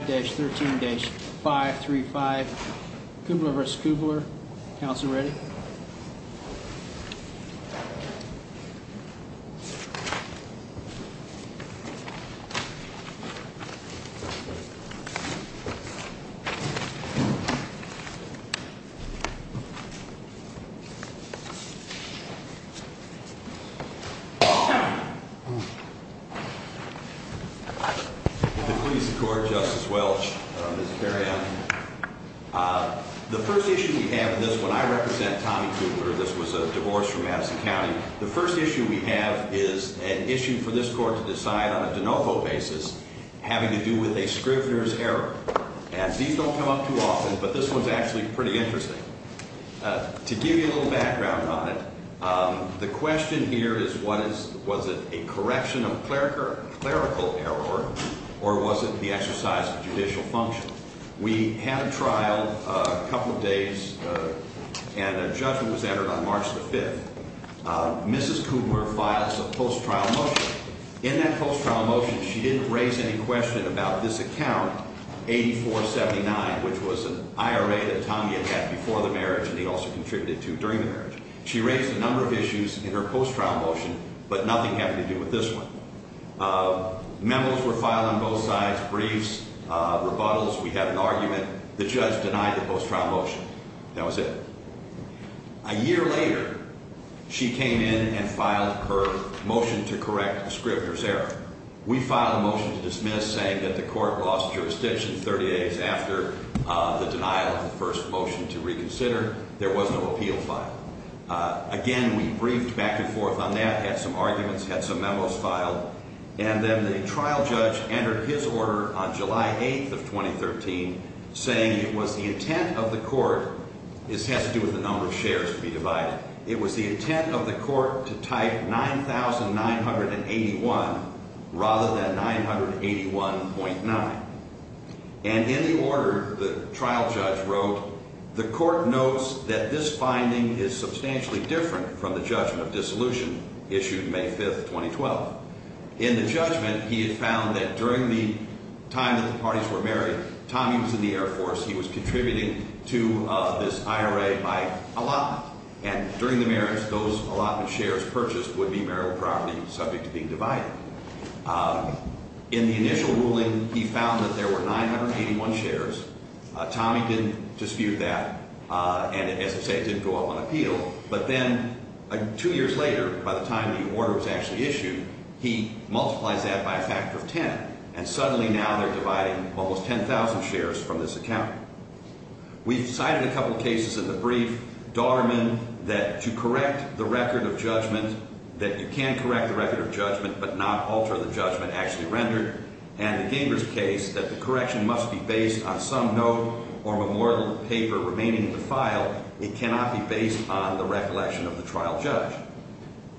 5-13-535 Kubler v. Kubler Counselor ready? The police court, Justice Welch, Mr. Periani, the first issue we have in this, when I represent Tommy Kubler, this was a divorce from Madison County, the first issue we have is an issue for this court to decide on a de novo basis having to do with a scrivener's error. And these don't come up too often, but this one's actually pretty interesting. To give you a little background on it, the question here is what is, was it a correction of clerical error or was it the exercise of judicial function? And I think it's interesting to think about this, because it's not just a matter of It's a matter of the statute in the statute, and I think it's interesting to think about it. And so, we have a trial, a couple of days, and a judgment was entered on March the 5th. Mrs. Kubler files a post-trial motion. In that post-trial motion, she didn't raise any question about this account, 8479, which was an IRA that Tommy had had before the marriage and he also contributed to during the marriage. She raised a number of issues in her post-trial motion, but nothing having to do with this And in the order, the trial judge wrote, the court notes that this finding is substantially different from the judgment of dissolution issued May 5th, 2012. In the judgment, he had found that during the time that the parties were married, Tommy was in the Air Force. He was contributing to this IRA by allotment, and during the marriage, those allotment shares purchased would be marital property subject to being divided. In the initial ruling, he found that there were 981 shares. Tommy didn't dispute that, and as I say, it didn't go up on appeal. But then, two years later, by the time the order was actually issued, he multiplies that by a factor of 10, and suddenly now they're dividing almost 10,000 shares from this account. We've cited a couple of cases in the brief. Dahlman, that you correct the record of judgment, that you can correct the record of judgment, but not alter the judgment actually rendered. And the Gingers case, that the correction must be based on some note or memorial paper remaining in the file. It cannot be based on the recollection of the trial judge.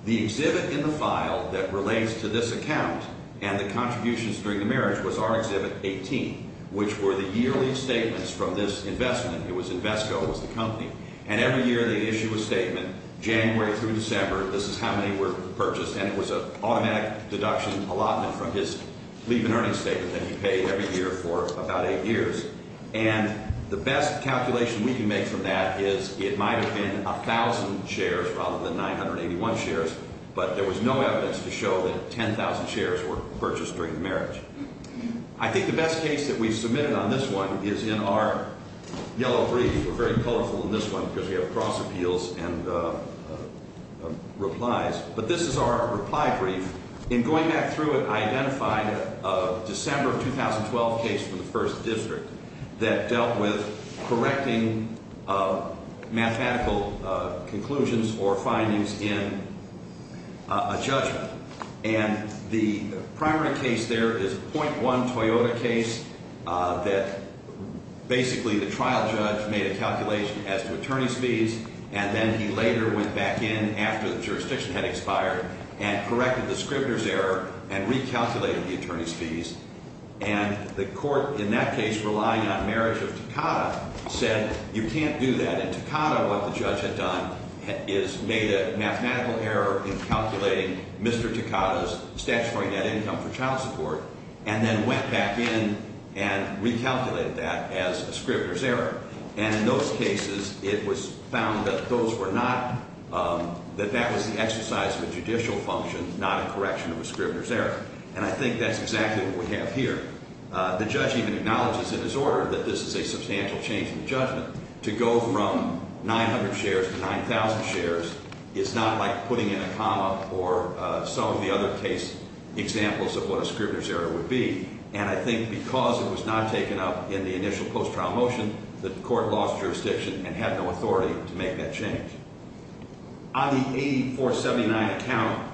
The exhibit in the file that relates to this account and the contributions during the marriage was our exhibit 18, which were the yearly statements from this investment. It was Invesco, it was the company. And every year, they'd issue a statement, January through December, this is how many were purchased, and it was an automatic deduction allotment from his leave and earnings statement that he paid every year for about eight years. And the best calculation we can make from that is it might have been 1,000 shares rather than 981 shares, but there was no evidence to show that 10,000 shares were purchased during the marriage. I think the best case that we've submitted on this one is in our yellow brief. We're very colorful in this one because we have cross appeals and replies. But this is our reply brief. In going back through it, I identified a December of 2012 case from the first district that dealt with correcting mathematical conclusions or findings in a judgment. And the primary case there is a .1 Toyota case that basically the trial judge made a calculation as to attorney's fees, and then he later went back in after the jurisdiction had expired and corrected the scrivener's error and recalculated the attorney's fees. And the court in that case, relying on marriage of Takata, said you can't do that. And Takata, what the judge had done, is made a mathematical error in calculating Mr. Takata's statutory net income for child support, and then went back in and recalculated that as a scrivener's error. And in those cases, it was found that that was the exercise of a judicial function, not a correction of a scrivener's error. And I think that's exactly what we have here. The judge even acknowledges in his order that this is a substantial change in the judgment. To go from 900 shares to 9,000 shares is not like putting in a comma or some of the other case examples of what a scrivener's error would be. And I think because it was not taken up in the initial post-trial motion, the court lost jurisdiction and had no authority to make that change. On the 8479 account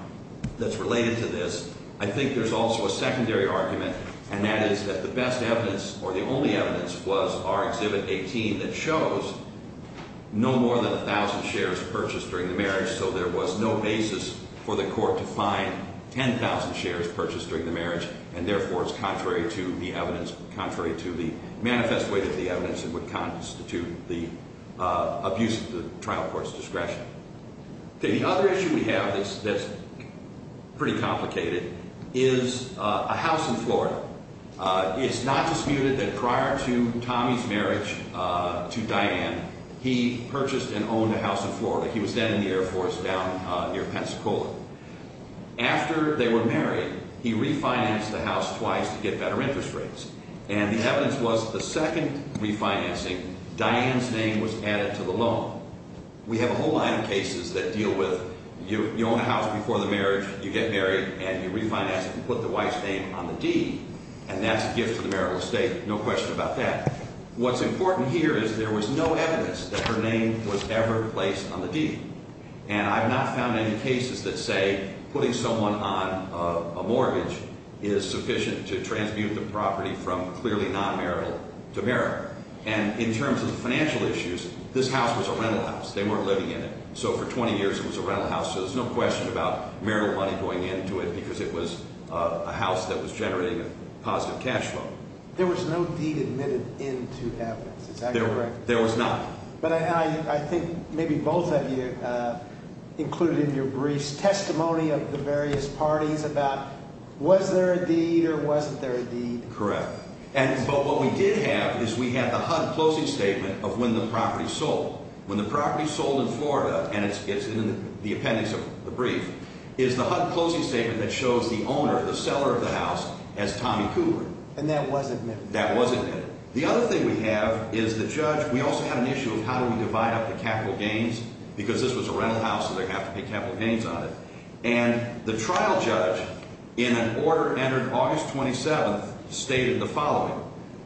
that's related to this, I think there's also a secondary argument, and that is that the best evidence, or the only evidence, was our Exhibit 18 that shows no more than 1,000 shares purchased during the marriage, so there was no basis for the evidence contrary to the manifest way that the evidence would constitute the abuse of the trial court's discretion. The other issue we have that's pretty complicated is a house in Florida. It's not disputed that prior to Tommy's marriage to Diane, he purchased and owned a house in Florida. He was then in the Air Force down near Pensacola. After they were married, he refinanced the house twice to get better interest rates, and the evidence was the second refinancing, Diane's name was added to the loan. We have a whole line of cases that deal with you own a house before the marriage, you get married, and you refinance it and put the wife's name on the deed, and that's a gift to the marital estate, no question about that. What's important here is there was no evidence that her name was ever placed on the deed, and I've not found any cases that say putting someone on a mortgage is sufficient to transmute the property from clearly non-marital to marital. And in terms of the financial issues, this house was a rental house, they weren't living in it, so for 20 years it was a rental house, so there's no question about marital money going into it because it was a house that was generating a positive cash flow. There was no deed admitted into evidence, is that correct? There was not. But I think maybe both of you included in your briefs testimony of the various parties about was there a deed or wasn't there a deed? Correct. But what we did have is we had the HUD closing statement of when the property sold. When the property sold in Florida, and it's in the appendix of the brief, is the HUD closing statement that shows the owner, the seller of the house, as Tommy Cooper. And that was admitted? That was admitted. The other thing we have is the judge, we also had an issue of how do we divide up the capital gains because this was a rental house so they're going to have to pay capital gains on it. And the trial judge in an order entered August 27th stated the following,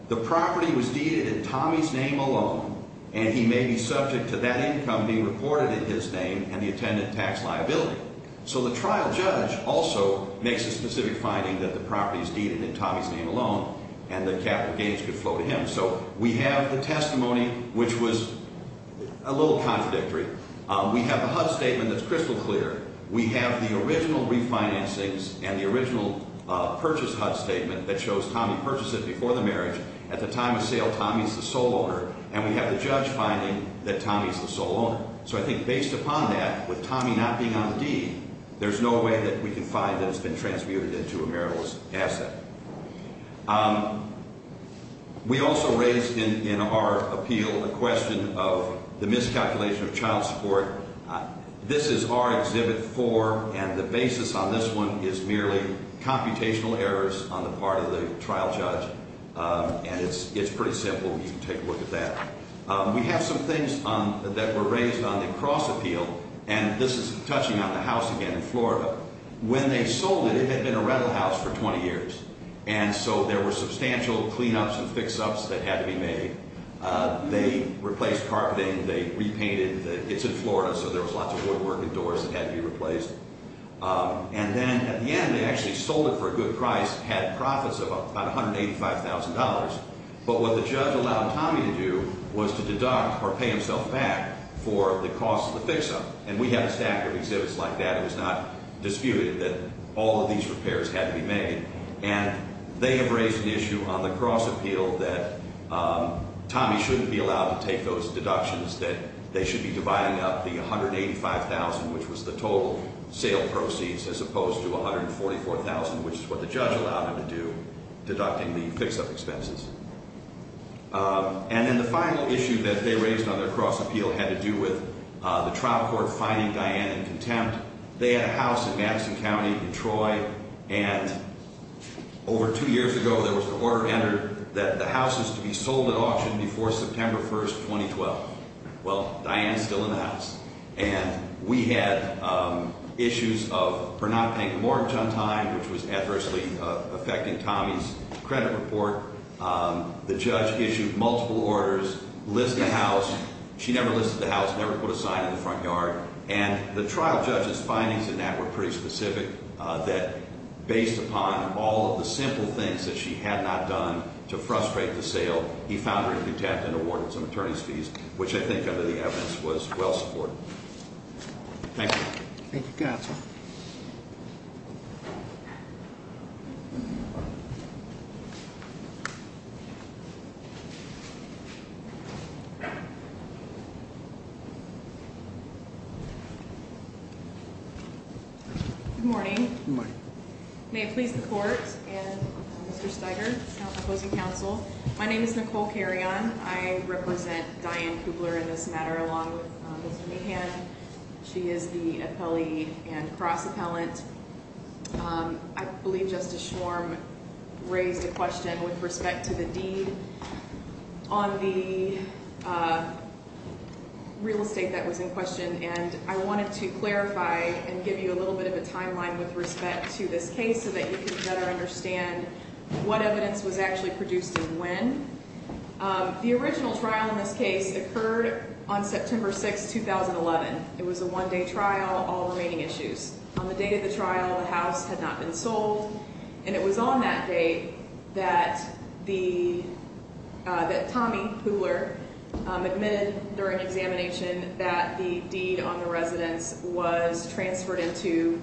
the property was deeded in Tommy's name alone and he may be subject to that income being reported in his name and the attendant tax liability. So the trial judge also makes a specific finding that the property is deeded in Tommy's name alone and the capital gains could flow to him. So we have the testimony which was a little contradictory. We have a HUD statement that's crystal clear. We have the original refinancings and the original purchase HUD statement that shows Tommy purchased it before the marriage. At the time of sale, Tommy's the sole owner. And we have the judge finding that Tommy's the sole owner. So I think based upon that, with Tommy not being on the deed, there's no way that we can find that it's been transmuted into a marital asset. We also raised in our appeal a question of the miscalculation of child support. This is our exhibit four and the basis on this one is merely computational errors on the part of the trial judge. And it's pretty simple. You can take a look at that. We have some things that were raised on the cross appeal and this is touching on the house again in Florida. When they sold it, it had been a rental house for 20 years. And so there were substantial cleanups and fix-ups that had to be made. They replaced carpeting. They repainted. It's in Florida so there was lots of woodwork indoors that had to be replaced. And then at the end, they actually sold it for a good price, had profits of about $185,000. But what the judge allowed Tommy to do was to deduct or pay himself back for the cost of the fix-up. And we have a stack of exhibits like that. It was not disputed that all of these repairs had to be made. And they have raised an issue on the cross appeal that Tommy shouldn't be allowed to take those deductions, that they should be dividing up the $185,000, which was the total sale proceeds, as opposed to $144,000, which is what the judge allowed him to do, deducting the fix-up expenses. And then the final issue that they raised on their cross appeal had to do with the trial court finding Diane in contempt. They had a house in Madison County, Detroit, and over two years ago, there was an order entered that the house is to be sold at auction before September 1, 2012. Well, Diane is still in the house. And we had issues of her not paying the mortgage on time, which was adversely affecting Tommy's credit report. The judge issued multiple orders, listed the house. She never listed the house, never put a sign in the front yard. And the trial judge's findings in that were pretty specific, that based upon all of the simple things that she had not done to frustrate the sale, he found her to be tapped into ward with some attorney's fees, which I think, under the evidence, was well supported. Thank you. Thank you, counsel. Thank you. Good morning. Good morning. May it please the court and Mr. Steiger, opposing counsel. My name is Nicole Carrion. I represent Diane Kubler in this matter, along with Mr. Mahan. She is the appellee and cross appellant. I believe Justice Schwarm raised a question with respect to the deed on the real estate that was in question. And I wanted to clarify and give you a little bit of a timeline with respect to this case so that you can better understand what evidence was actually produced and when. The original trial in this case occurred on September 6, 2011. It was a one-day trial, all remaining issues. On the date of the trial, the house had not been sold. And it was on that date that Tommy Kubler admitted during examination that the deed on the residence was transferred into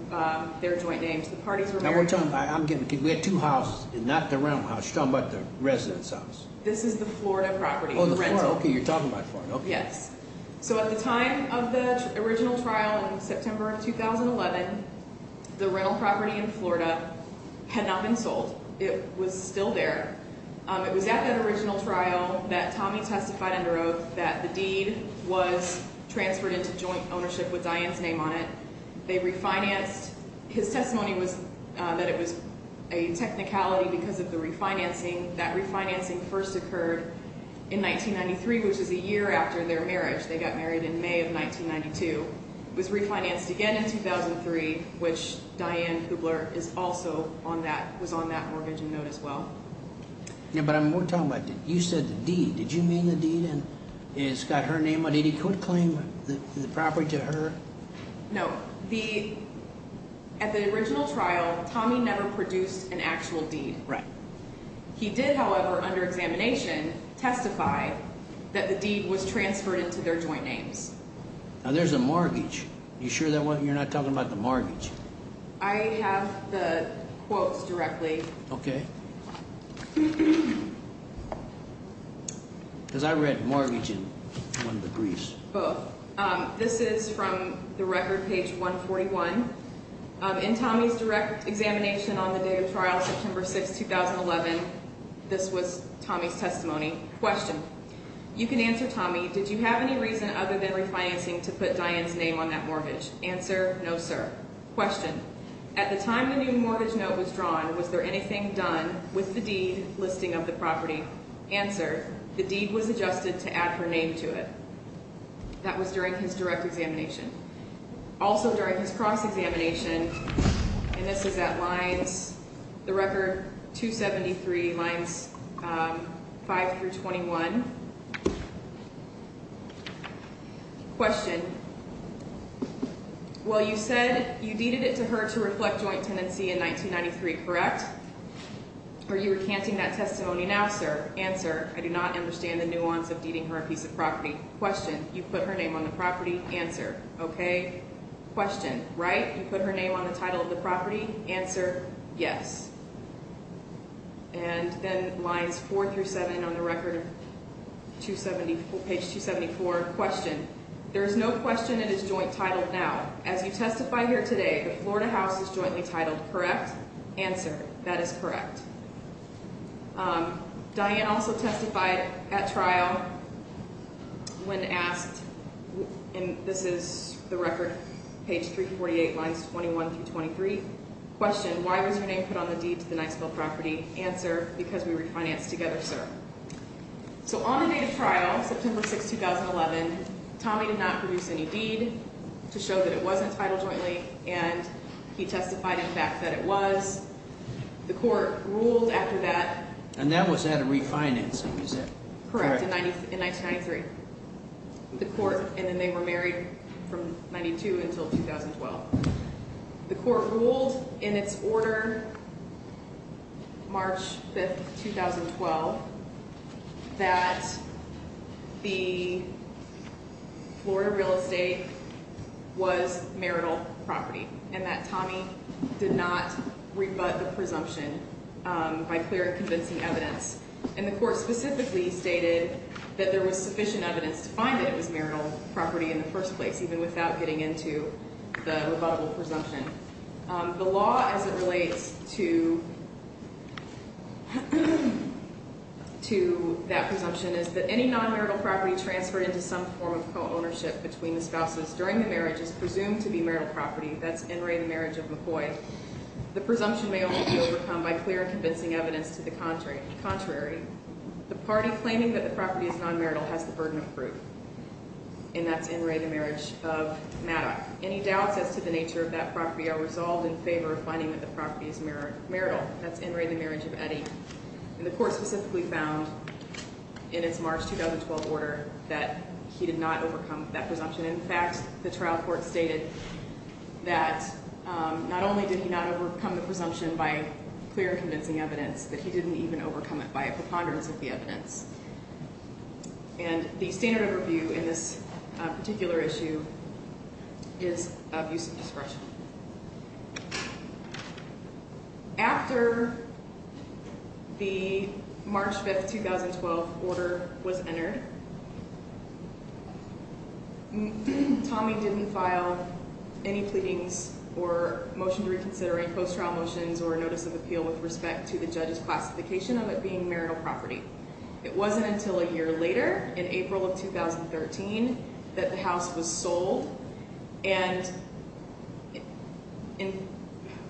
their joint names. The parties were married. Now we're talking, I'm getting confused. We had two houses, not the rental house. She's talking about the residence house. This is the Florida property. Oh, the Florida. Okay, you're talking about Florida. Yes. So at the time of the original trial in September of 2011, the rental property in Florida had not been sold. It was still there. It was at that original trial that Tommy testified under oath that the deed was transferred into joint ownership with Diane's name on it. They refinanced. His testimony was that it was a technicality because of the refinancing. That refinancing first occurred in 1993, which is a year after their marriage. They got married in May of 1992. It was refinanced again in 2003, which Diane Kubler is also on that, was on that mortgage and note as well. Yeah, but I'm, we're talking about, you said the deed. Did you mean the deed and it's got her name on it? He could claim the property to her? No. The, at the original trial, Tommy never produced an actual deed. Right. He did, however, under examination, testify that the deed was transferred into their joint names. Now there's a mortgage. You sure that wasn't, you're not talking about the mortgage? I have the quotes directly. Okay. Cause I read mortgage in one of the briefs. Both. Um, this is from the record page 141. Um, in Tommy's direct examination on the day of trial, September 6th, 2011, this was Tommy's testimony. Question. You can answer Tommy. Did you have any reason other than refinancing to put Diane's name on that mortgage? Answer. No, sir. Question. At the time the new mortgage note was drawn, was there anything done with the deed listing of the property? Answer. The deed was adjusted to add her name to it. That was during his direct examination. Also during his cross-examination, and this is at lines, the record 273 lines, um, 5 through 21. Question. Well, you said you deeded it to her to reflect joint tenancy in 1993, correct? Are you recanting that testimony now, sir? Answer. I do not understand the nuance of deeding her a piece of property. Question. You put her name on the property. Answer. Okay? Question. Right? You put her name on the title of the property. Answer. Yes. And then lines 4 through 7 on the record, page 274, question. There is no question it is joint titled now. As you testify here today, the Florida house is jointly titled, correct? Answer. That is correct. Um, Diane also testified at trial when asked, and this is the record, page 348, lines 21 through 23. Question. Why was your name put on the deed to the Niceville property? Answer. Because we refinanced together, sir. So on the date of trial, September 6, 2011, Tommy did not produce any deed to show that it was entitled jointly. And he testified in fact that it was. The court ruled after that. And that was at a refinancing, is that correct? Correct. In 1993. The court, and then they were married from 92 until 2012. The court ruled in its order, March 5, 2012, that the Florida real estate was marital property. And that Tommy did not rebut the presumption by clear and convincing evidence. And the court specifically stated that there was sufficient evidence to find that it was marital property in the first place, even without getting into the rebuttable presumption. The law as it relates to that presumption is that any non-marital property transferred into some form of co-ownership between the spouses during the marriage is presumed to be marital property. That's N. Ray, the marriage of McCoy. The presumption may only be overcome by clear and convincing evidence to the contrary. The party claiming that the property is non-marital has the burden of proof. And that's N. Ray, the marriage of Maddox. Any doubts as to the nature of that property are resolved in favor of finding that the property is marital. That's N. Ray, the marriage of Eddie. And the court specifically found in its March 2012 order that he did not overcome that presumption. In fact, the trial court stated that not only did he not overcome the presumption by clear and convincing evidence, but he didn't even overcome it by a preponderance of the evidence. And the standard of review in this particular issue is of use of discretion. After the March 5, 2012 order was entered, Tommy didn't file any pleadings or motion to reconsider any post-trial motions or notice of appeal with respect to the judge's classification of it being marital property. It wasn't until a year later, in April of 2013, that the house was sold. And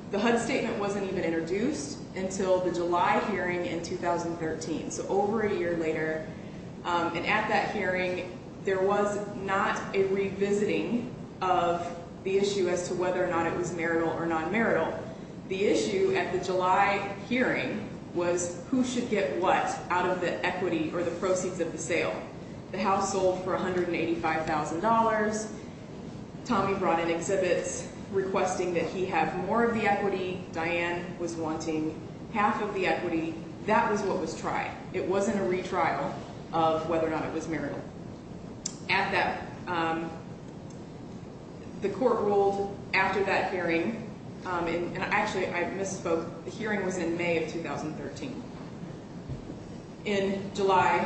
the HUD statement wasn't even introduced until the July hearing in 2013. So over a year later. And at that hearing, there was not a revisiting of the issue as to whether or not it was marital or non-marital. The issue at the July hearing was who should get what out of the equity or the proceeds of the sale. The house sold for $185,000. Tommy brought in exhibits requesting that he have more of the equity. Diane was wanting half of the equity. That was what was tried. It wasn't a retrial of whether or not it was marital. At that, the court ruled after that hearing, and actually I misspoke. The hearing was in May of 2013. In July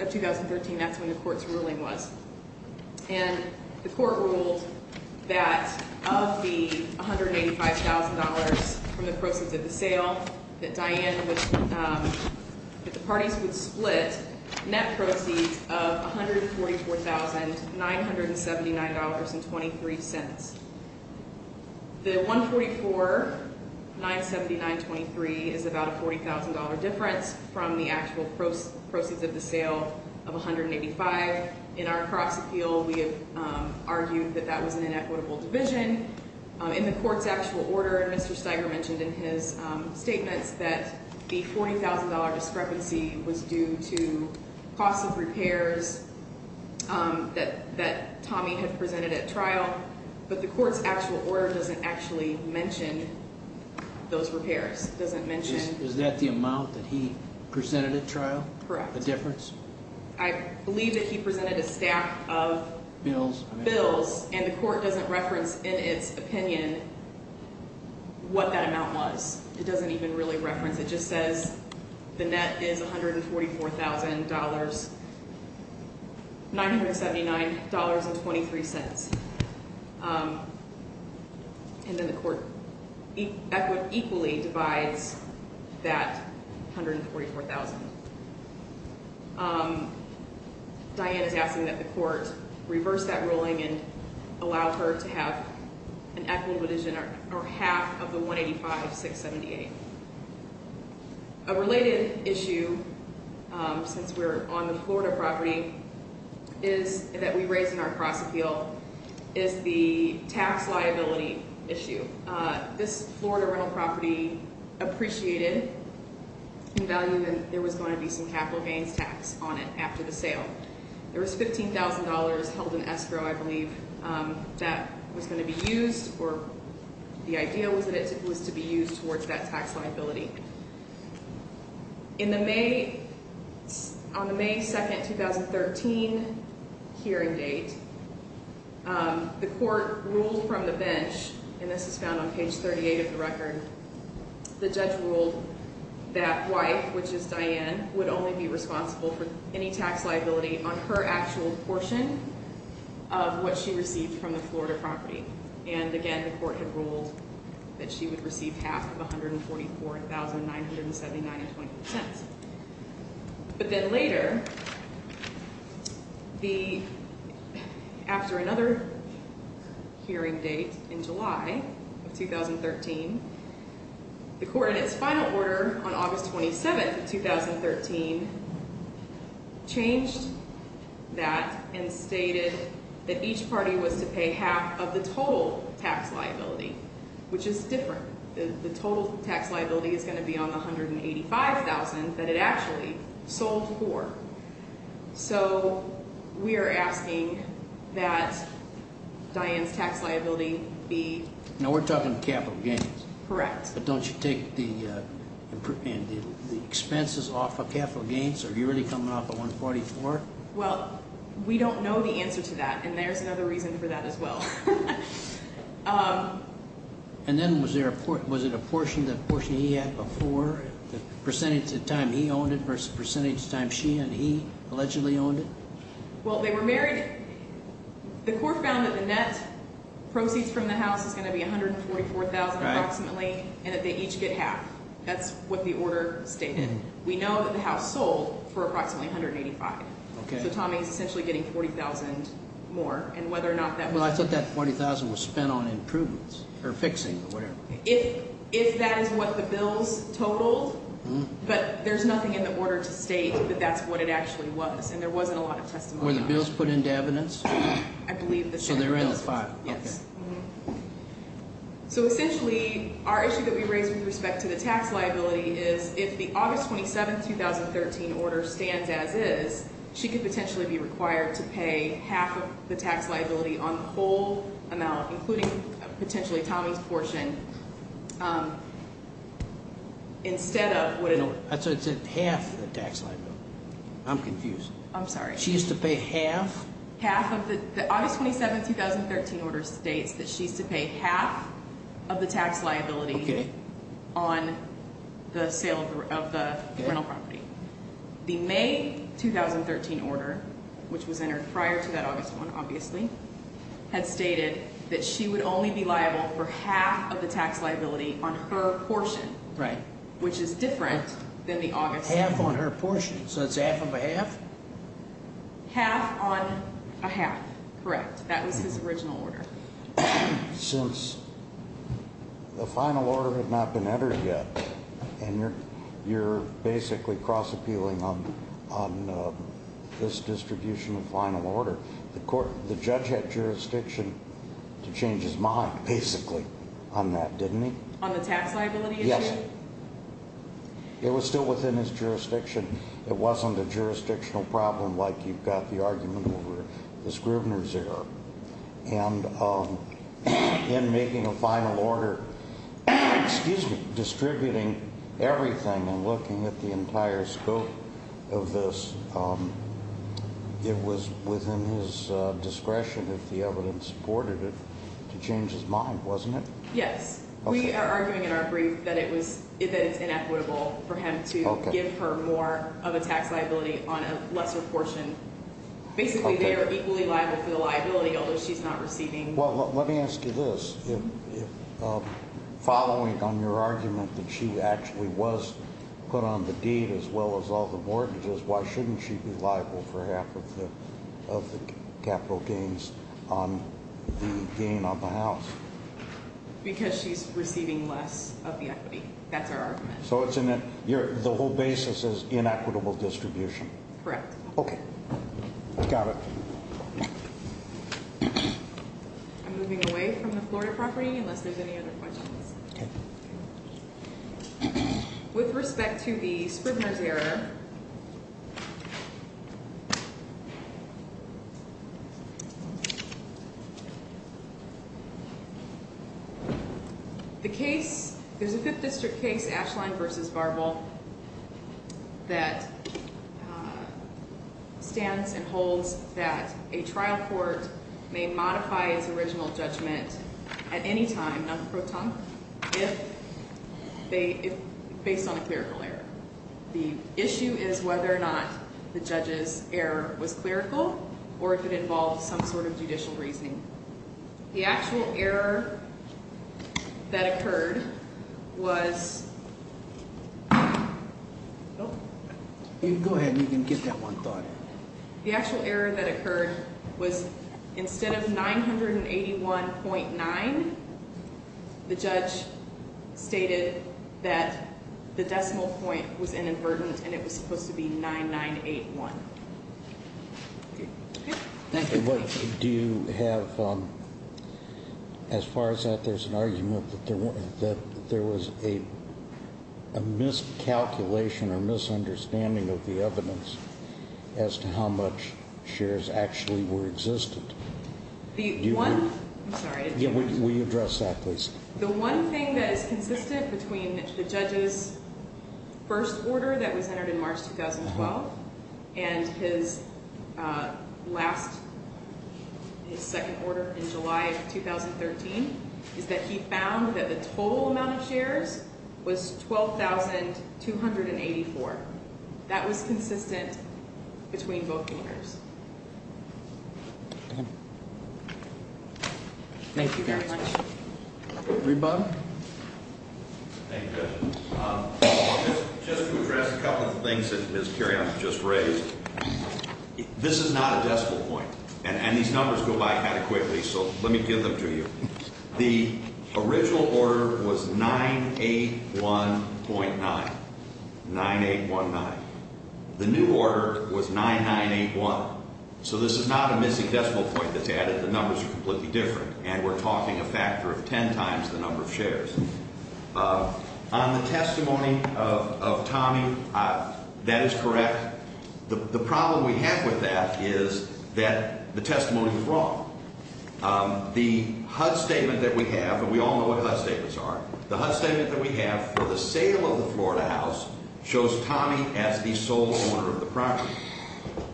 of 2013, that's when the court's ruling was. And the court ruled that of the $185,000 from the proceeds of the sale, that the parties would split net proceeds of $144,979.23. The $144,979.23 is about a $40,000 difference from the actual proceeds of the sale of $185,000. In our cross appeal, we have argued that that was an inequitable division. In the court's actual order, Mr. Steiger mentioned in his statements that the $40,000 discrepancy was due to cost of repairs that Tommy had presented at trial. But the court's actual order doesn't actually mention those repairs. It doesn't mention- Is that the amount that he presented at trial? Correct. The difference? I believe that he presented a stack of- Bills. Bills. And the court doesn't reference in its opinion what that amount was. It doesn't even really reference. It just says the net is $144,979.23. And then the court equally divides that $144,000. Diane is asking that the court reverse that ruling and allow her to have an equitable division or half of the $185,678. A related issue, since we're on the Florida property that we raise in our cross appeal, is the tax liability issue. This Florida rental property appreciated the value that there was going to be some capital gains tax on it after the sale. There was $15,000 held in escrow, I believe, that was going to be used, or the idea was that it was to be used towards that tax liability. On the May 2nd, 2013 hearing date, the court ruled from the bench, and this is found on page 38 of the record, the judge ruled that wife, which is Diane, would only be responsible for any tax liability on her actual portion of what she received from the Florida property. And again, the court had ruled that she would receive half of $144,979.20. But then later, after another hearing date in July of 2013, the court in its final order on August 27th of 2013 changed that and stated that each party was to pay half of the total tax liability, which is different. The total tax liability is going to be on the $185,000 that it actually sold for. So we are asking that Diane's tax liability be- Now we're talking capital gains. Correct. But don't you take the expenses off of capital gains? Are you really coming off of $144,000? Well, we don't know the answer to that, and there's another reason for that as well. And then was it a portion that he had before, the percentage of time he owned it versus the percentage of time she and he allegedly owned it? Well, they were married. The court found that the net proceeds from the house is going to be $144,000 approximately, and that they each get half. That's what the order stated. We know that the house sold for approximately $185,000. Okay. So Tommy is essentially getting $40,000 more, and whether or not that was- Well, I thought that $40,000 was spent on improvements or fixing or whatever. If that is what the bills totaled, but there's nothing in the order to state that that's what it actually was, and there wasn't a lot of testimony on it. Were the bills put into evidence? I believe the same. So they were in the file. Yes. So essentially, our issue that we raised with respect to the tax liability is, if the August 27, 2013 order stands as is, she could potentially be required to pay half of the tax liability on the whole amount, including potentially Tommy's portion, instead of what it- That's what it said, half the tax liability. I'm confused. I'm sorry. She used to pay half? Half of the- The August 27, 2013 order states that she's to pay half of the tax liability on the sale of the rental property. The May 2013 order, which was entered prior to that August one, obviously, had stated that she would only be liable for half of the tax liability on her portion, which is different than the August- Half on her portion, so it's half of a half? Half on a half, correct. That was his original order. Since the final order had not been entered yet, and you're basically cross-appealing on this distribution of final order, the judge had jurisdiction to change his mind, basically, on that, didn't he? On the tax liability issue? Yes. It was still within his jurisdiction. It wasn't a jurisdictional problem like you've got the argument over the Scrivener's error. And in making a final order- Excuse me. Distributing everything and looking at the entire scope of this, it was within his discretion, if the evidence supported it, to change his mind, wasn't it? Yes. We are arguing in our brief that it's inequitable for him to give her more of a tax liability on a lesser portion. Basically, they are equally liable for the liability, although she's not receiving- Well, let me ask you this. Following on your argument that she actually was put on the deed as well as all the mortgages, why shouldn't she be liable for half of the capital gains on the house? Because she's receiving less of the equity. That's our argument. So the whole basis is inequitable distribution. Correct. Okay. Got it. I'm moving away from the Florida property unless there's any other questions. Okay. With respect to the Scrivener's error, the case, there's a Fifth District case, Ashline v. Barbell, that stands and holds that a trial court may modify its original judgment at any time, non pro tonque, based on a clerical error. The issue is whether or not the judge's error was clerical or if it involved some sort of judicial reasoning. The actual error that occurred was- Go ahead and you can get that one thought. The actual error that occurred was instead of 981.9, the judge stated that the decimal point was inadvertent and it was supposed to be 9981. Okay. Thank you. Do you have, as far as that, there's an argument that there was a miscalculation or misunderstanding of the evidence as to how much shares actually were existent. The one- I'm sorry. Will you address that, please? The one thing that is consistent between the judge's first order that was entered in March 2012 and his last, his second order in July of 2013, is that he found that the total amount of shares was 12,284. That was consistent between both companies. Thank you very much. Rebob? Thank you, Judge. Just to address a couple of things that Ms. Carrion just raised, this is not a decimal point and these numbers go by kind of quickly, so let me give them to you. The original order was 981.9, 9819. The new order was 9981, so this is not a missing decimal point that's added. The numbers are completely different and we're talking a factor of 10 times the number of shares. On the testimony of Tommy, that is correct. The problem we have with that is that the testimony was wrong. The HUD statement that we have, and we all know what HUD statements are, the HUD statement that we have for the sale of the Florida house shows Tommy as the sole owner of the property.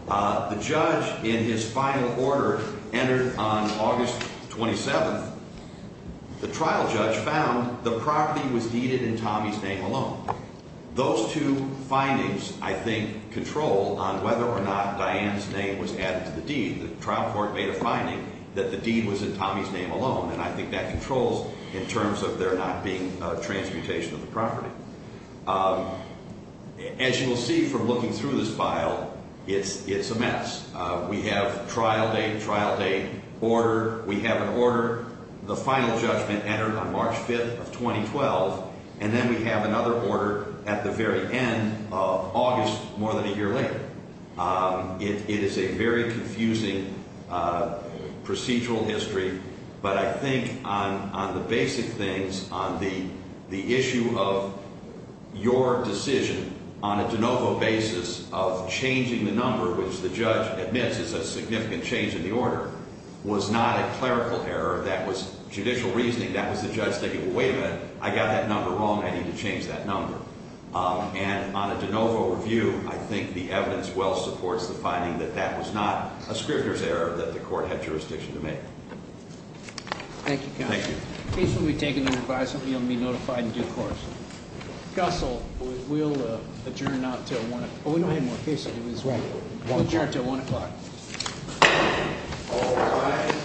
The judge, in his final order, entered on August 27th. The trial judge found the property was deeded in Tommy's name alone. Those two findings, I think, control on whether or not Diane's name was added to the deed. The trial court made a finding that the deed was in Tommy's name alone, and I think that controls in terms of there not being a transmutation of the property. As you will see from looking through this file, it's a mess. We have trial date, trial date, order. We have an order. The final judgment entered on March 5th of 2012, and then we have another order at the very end of August, more than a year later. It is a very confusing procedural history, but I think on the basic things, on the issue of your decision on a de novo basis of changing the number, which the judge admits is a significant change in the order, was not a clerical error. That was judicial reasoning. That was the judge thinking, well, wait a minute. I got that number wrong. I need to change that number. And on a de novo review, I think the evidence well supports the finding that that was not a scrivener's error that the court had jurisdiction to make. Thank you, counsel. The case will be taken under advisement. You'll be notified in due course. Custle, we'll adjourn now until 1 o'clock. We don't have more cases. We'll adjourn until 1 o'clock. All rise.